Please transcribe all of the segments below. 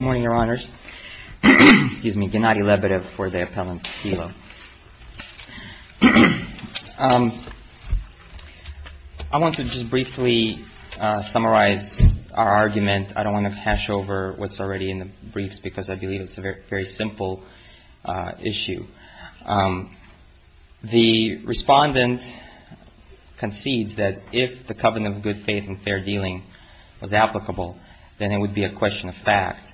Good morning, Your Honors. I want to just briefly summarize our argument. I don't want to hash over what's already in the briefs because I believe it's a very simple issue. The Respondent concedes that if the Covenant of Good Faith and Fair Dealing was applicable, then it would be a question of fact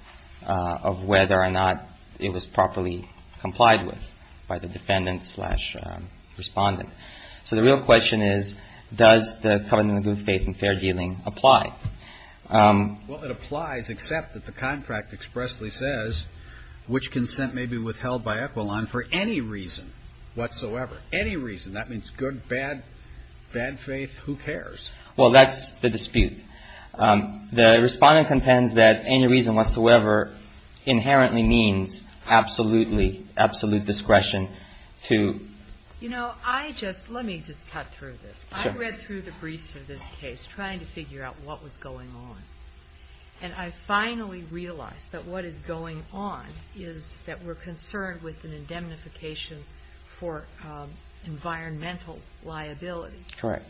of whether or not it was properly complied with by the Defendant slash Respondent. So the real question is, does the Covenant of Good Faith and Fair Dealing apply? Well, it applies except that the contract expressly says which consent may be withheld by Equilon for any reason whatsoever. Any reason. That means good, bad, bad faith, who cares? Well, that's the dispute. The Respondent contends that any reason whatsoever inherently means absolute discretion to You know, I just, let me just cut through this. I read through the briefs of this case trying to figure out what was going on. And I finally realized that what is going on is that we're concerned with an indemnification for environmental liability. Correct.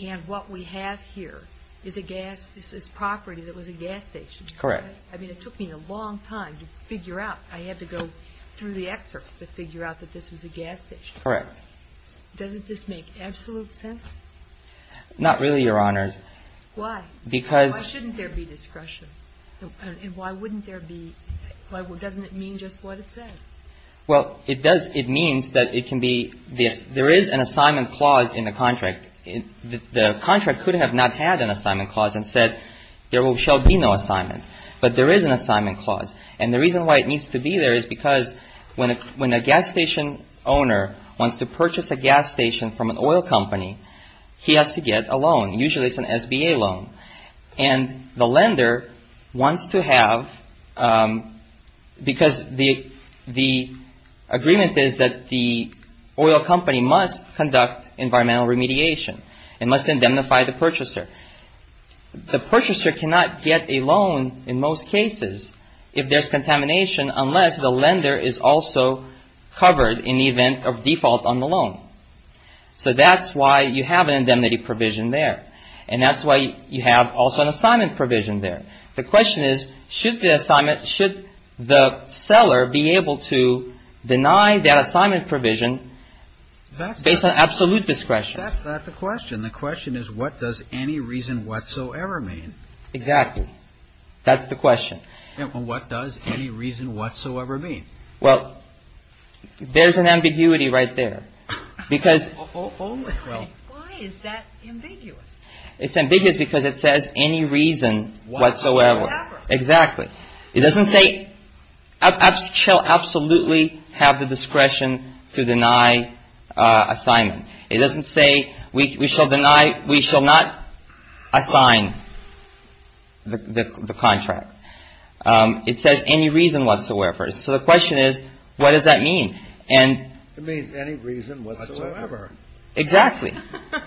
And what we have here is a gas, this property that was a gas station. Correct. I mean, it took me a long time to figure out. I had to go through the excerpts to figure out that this was a gas station. Correct. Doesn't this make absolute sense? Not really, Your Honors. Why? Because Why shouldn't there be discretion? And why wouldn't there be, doesn't it mean just what it says? Well, it does, it means that it can be, there is an assignment clause in the contract. The contract could have not had an assignment clause and said there shall be no assignment. But there is an assignment clause. And the reason why it needs to be there is because when a gas station owner wants to purchase a gas station from an oil company, he has to get a loan. Usually it's an SBA loan. And the lender wants to have, because the agreement is that the oil company must conduct environmental remediation and must indemnify the purchaser. The purchaser cannot get a loan in most cases if there's contamination unless the lender is also covered in the event of default on the loan. So that's why you have an indemnity provision there. And that's why you have also an assignment provision there. The question is, should the seller be able to deny that assignment provision based on absolute discretion? That's not the question. The question is, what does any reason whatsoever mean? Exactly. That's the question. What does any reason whatsoever mean? Well, there's an ambiguity right there because. Why is that ambiguous? It's ambiguous because it says any reason whatsoever. Exactly. It doesn't say shall absolutely have the discretion to deny assignment. It doesn't say we shall deny, we shall not assign the contract. It says any reason whatsoever. So the question is, what does that mean? It means any reason whatsoever. Exactly.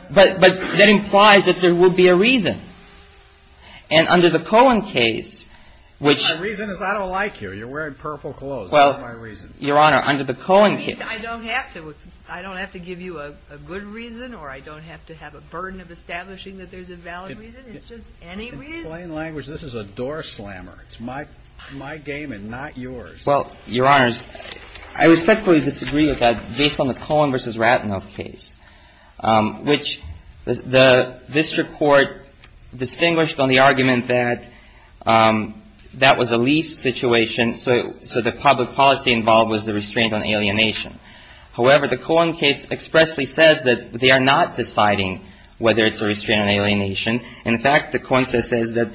But that implies that there will be a reason. And under the Cohen case. My reason is I don't like you. You're wearing purple clothes. That's not my reason. Your Honor, under the Cohen case. I don't have to give you a good reason or I don't have to have a burden of establishing that there's a valid reason. It's just any reason. In plain language, this is a door slammer. It's my game and not yours. Well, Your Honor, I respectfully disagree with that based on the Cohen v. Ratanoff case, which the district court distinguished on the argument that that was a lease situation. So the public policy involved was the restraint on alienation. However, the Cohen case expressly says that they are not deciding whether it's a restraint on alienation. In fact, the Cohen case says that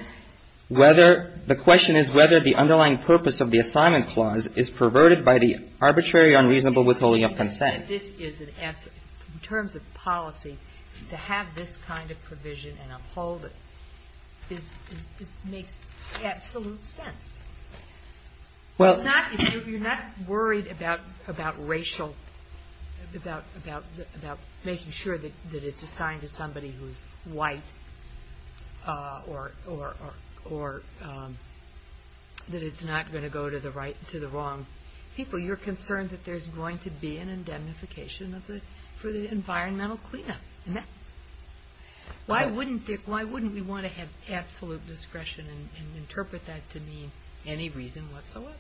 whether the question is whether the underlying purpose of the assignment clause is perverted by the arbitrary unreasonable withholding of consent. In terms of policy, to have this kind of provision and uphold it makes absolute sense. You're not worried about making sure that it's assigned to somebody who's white or that it's not going to go to the wrong people. You're concerned that there's going to be an indemnification for the environmental cleanup. Why wouldn't we want to have absolute discretion and interpret that to mean any reason whatsoever?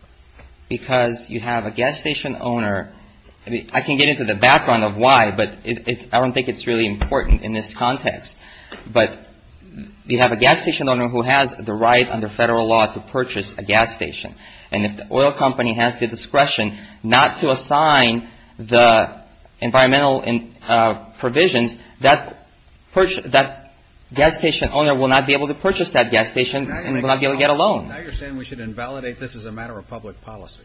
Because you have a gas station owner. I can get into the background of why, but I don't think it's really important in this context. But you have a gas station owner who has the right under federal law to purchase a gas station. And if the oil company has the discretion not to assign the environmental provisions, that gas station owner will not be able to purchase that gas station and will not be able to get a loan. Now you're saying we should invalidate this as a matter of public policy.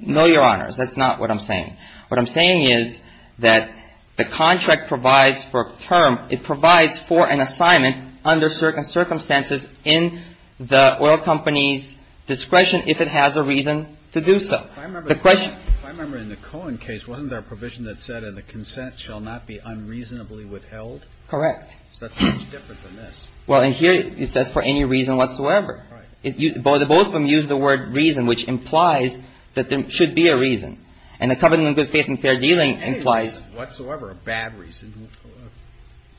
No, Your Honors. That's not what I'm saying. What I'm saying is that the contract provides for a term. It provides for an assignment under certain circumstances in the oil company's discretion if it has a reason to do so. If I remember in the Cohen case, wasn't there a provision that said the consent shall not be unreasonably withheld? Correct. So that's much different than this. Well, and here it says for any reason whatsoever. Right. Both of them use the word reason, which implies that there should be a reason. And the covenant of good faith and fair dealing implies. Any reason whatsoever, a bad reason.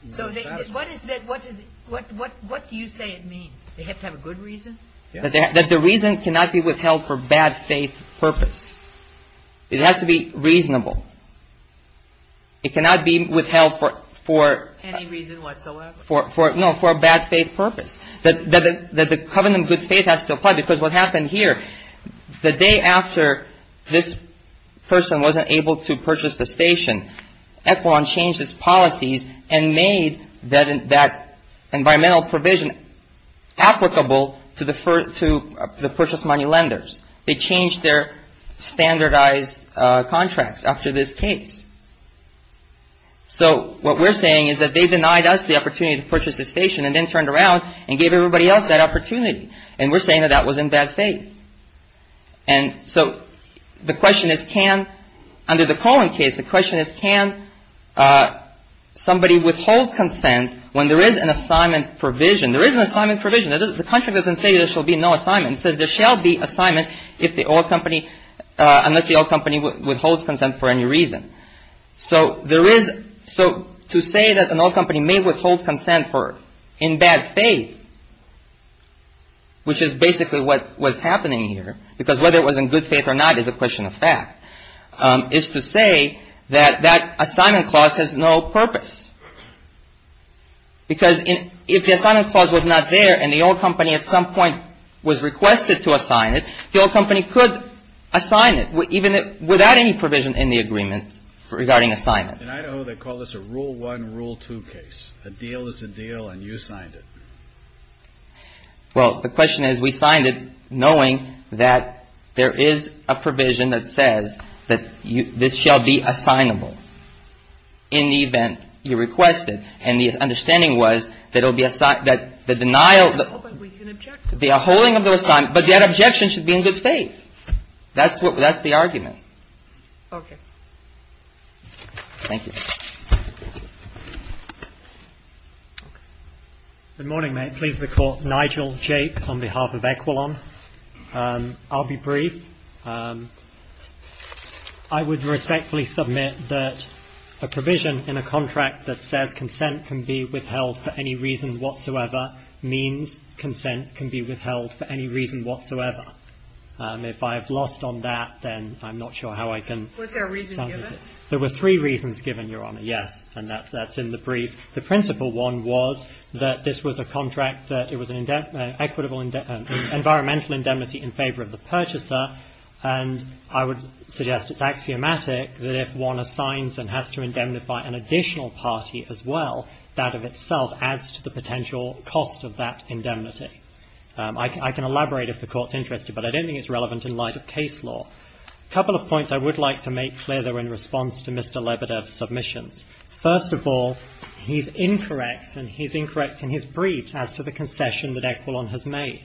So what is that? What do you say it means? They have to have a good reason? That the reason cannot be withheld for bad faith purpose. It has to be reasonable. It cannot be withheld for. Any reason whatsoever. No, for a bad faith purpose. That the covenant of good faith has to apply. Because what happened here, the day after this person wasn't able to purchase the station, Ekboron changed its policies and made that environmental provision applicable to the purchase money lenders. They changed their standardized contracts after this case. So what we're saying is that they denied us the opportunity to purchase the station and then turned around and gave everybody else that opportunity. And we're saying that that was in bad faith. And so the question is can, under the Cohen case, the question is can somebody withhold consent when there is an assignment provision? There is an assignment provision. The contract doesn't say there shall be no assignment. It says there shall be assignment if the oil company, unless the oil company withholds consent for any reason. So to say that an oil company may withhold consent in bad faith, which is basically what's happening here, because whether it was in good faith or not is a question of fact, is to say that that assignment clause has no purpose. Because if the assignment clause was not there and the oil company at some point was requested to assign it, the oil company could assign it even without any provision in the agreement regarding assignment. In Idaho, they call this a rule one, rule two case. A deal is a deal and you signed it. Well, the question is we signed it knowing that there is a provision that says that this shall be assignable in the event you request it. And the understanding was that it will be assigned, that the denial, the holding of the assignment, but that objection should be in good faith. That's what, that's the argument. Okay. Thank you. Good morning, may it please the Court. Nigel Jakes on behalf of Equilon. I'll be brief. I would respectfully submit that a provision in a contract that says consent can be withheld for any reason whatsoever means consent can be withheld for any reason whatsoever. If I have lost on that, then I'm not sure how I can. Was there a reason given? There were three reasons given, Your Honor, yes. And that's in the brief. The principal one was that this was a contract that it was an equitable environmental indemnity in favor of the purchaser. And I would suggest it's axiomatic that if one assigns and has to indemnify an additional party as well, that of itself adds to the potential cost of that indemnity. I can elaborate if the Court's interested, but I don't think it's relevant in light of case law. A couple of points I would like to make clear that were in response to Mr. Lebedev's submissions. First of all, he's incorrect and he's incorrect in his briefs as to the concession that Equilon has made.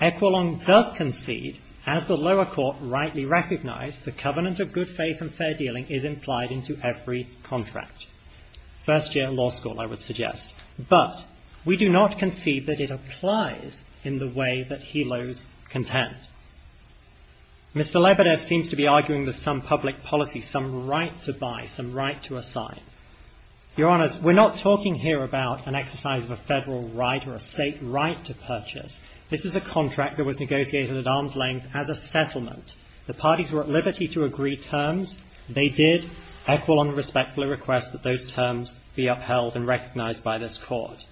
Equilon does concede, as the lower court rightly recognized, the covenant of good faith and fair dealing is implied into every contract. First-year law school, I would suggest. But we do not concede that it applies in the way that he loathes contempt. Mr. Lebedev seems to be arguing that some public policy, some right to buy, some right to assign. Your Honors, we're not talking here about an exercise of a federal right or a state right to purchase. This is a contract that was negotiated at arm's length as a settlement. The parties were at liberty to agree terms. They did. Equilon respectfully requests that those terms be upheld and recognized by this Court.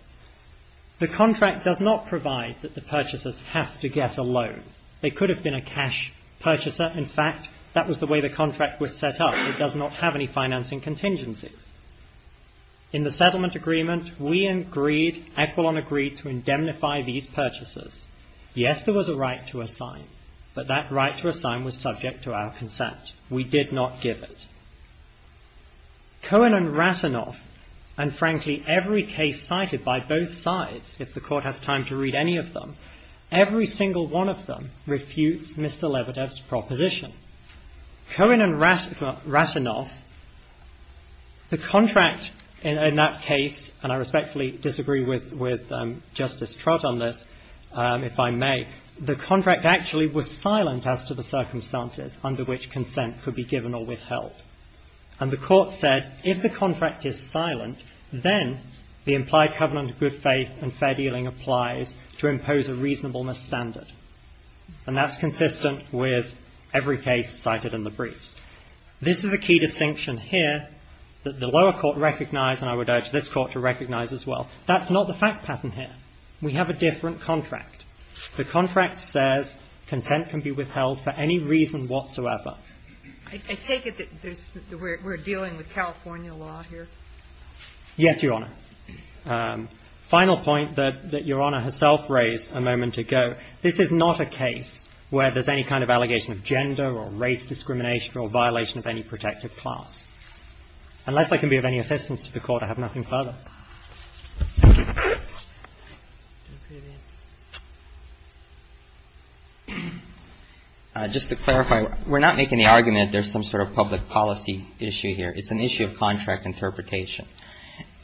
The contract does not provide that the purchasers have to get a loan. They could have been a cash purchaser. In fact, that was the way the contract was set up. It does not have any financing contingencies. In the settlement agreement, we agreed, Equilon agreed, to indemnify these purchasers. Yes, there was a right to assign, but that right to assign was subject to our consent. We did not give it. Cohen and Ratanoff, and frankly, every case cited by both sides, if the Court has time to read any of them, every single one of them refutes Mr. Lebedev's proposition. Cohen and Ratanoff, the contract in that case, and I respectfully disagree with Justice Trott on this, if I may, the contract actually was silent as to the circumstances under which consent could be given or withheld. And the Court said, if the contract is silent, then the implied covenant of good faith and fair dealing applies to impose a reasonableness standard. And that's consistent with every case cited in the briefs. This is a key distinction here that the lower court recognized, and I would urge this Court to recognize as well. That's not the fact pattern here. We have a different contract. The contract says consent can be withheld for any reason whatsoever. I take it that we're dealing with California law here. Yes, Your Honor. Final point that Your Honor herself raised a moment ago. This is not a case where there's any kind of allegation of gender or race discrimination or violation of any protective class. Unless I can be of any assistance to the Court, I have nothing further. Just to clarify, we're not making the argument that there's some sort of public policy issue here. It's an issue of contract interpretation.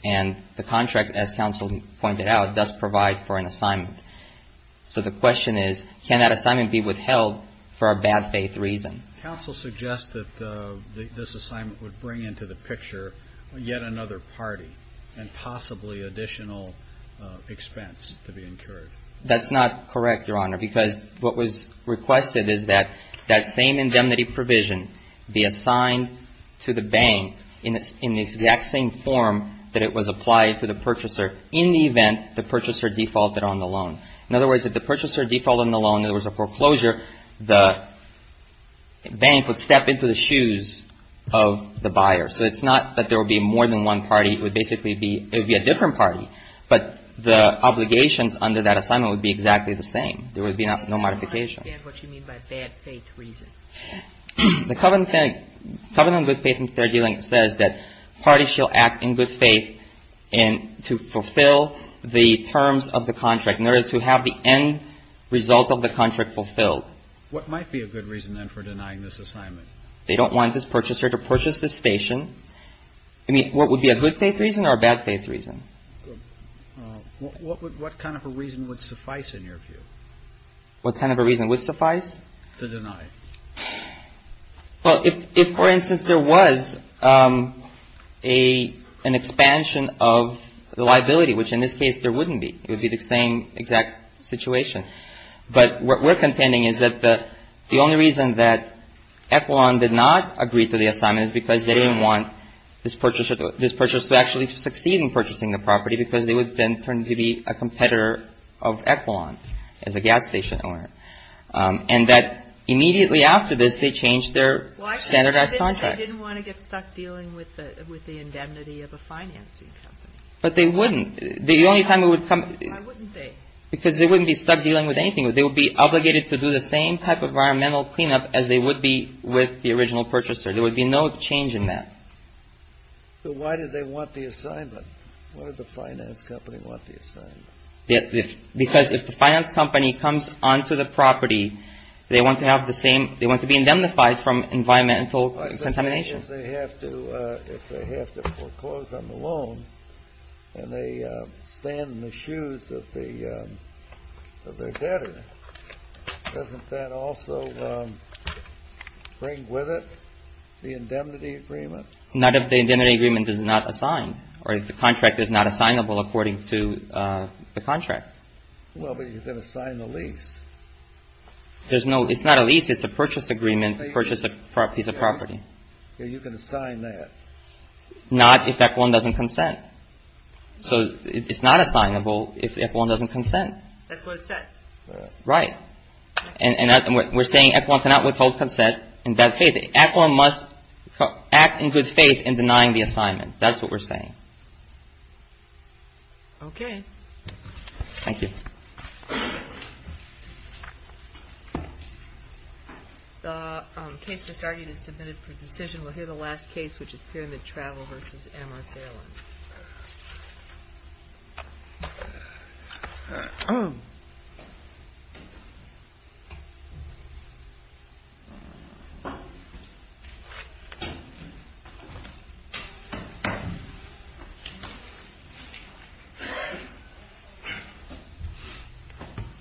And the contract, as counsel pointed out, does provide for an assignment. So the question is, can that assignment be withheld for a bad faith reason? Counsel suggests that this assignment would bring into the picture yet another party, and possibly additional expense to be incurred. That's not correct, Your Honor, because what was requested is that that same indemnity provision be assigned to the bank in the exact same form that it was applied to the purchaser in the event the purchaser defaulted on the loan. In other words, if the purchaser defaulted on the loan, there was a foreclosure, the bank would step into the shoes of the buyer. So it's not that there would be more than one party. It would basically be a different party. But the obligations under that assignment would be exactly the same. There would be no modification. I don't understand what you mean by bad faith reason. The Covenant on Good Faith and Fair Dealing says that parties shall act in good faith to fulfill the terms of the contract in order to have the end result of the contract fulfilled. What might be a good reason, then, for denying this assignment? They don't want this purchaser to purchase this station. I mean, what would be a good faith reason or a bad faith reason? What kind of a reason would suffice, in your view? What kind of a reason would suffice? To deny it. Well, if, for instance, there was an expansion of the liability, which in this case there wouldn't be. It would be the same exact situation. But what we're contending is that the only reason that Equilon did not agree to the assignment is because they didn't want this purchaser to actually succeed in purchasing the property because they would then turn to be a competitor of Equilon as a gas station owner. And that immediately after this, they changed their standardized contract. Well, I could have said that they didn't want to get stuck dealing with the indemnity of a financing company. But they wouldn't. The only time it would come up. Why wouldn't they? Because they wouldn't be stuck dealing with anything. They would be obligated to do the same type of environmental cleanup as they would be with the original purchaser. There would be no change in that. So why did they want the assignment? Why did the finance company want the assignment? Because if the finance company comes onto the property, they want to have the same – they want to be indemnified from environmental contamination. If they have to foreclose on the loan and they stand in the shoes of their debtor, doesn't that also bring with it the indemnity agreement? Not if the indemnity agreement is not assigned or if the contract is not assignable according to the contract. Well, but you can assign a lease. There's no – it's not a lease. Okay. You can assign that. Not if ECLAWN doesn't consent. So it's not assignable if ECLAWN doesn't consent. That's what it says. Right. And we're saying ECLAWN cannot withhold consent in that case. ECLAWN must act in good faith in denying the assignment. That's what we're saying. Okay. Thank you. Thank you. Thank you.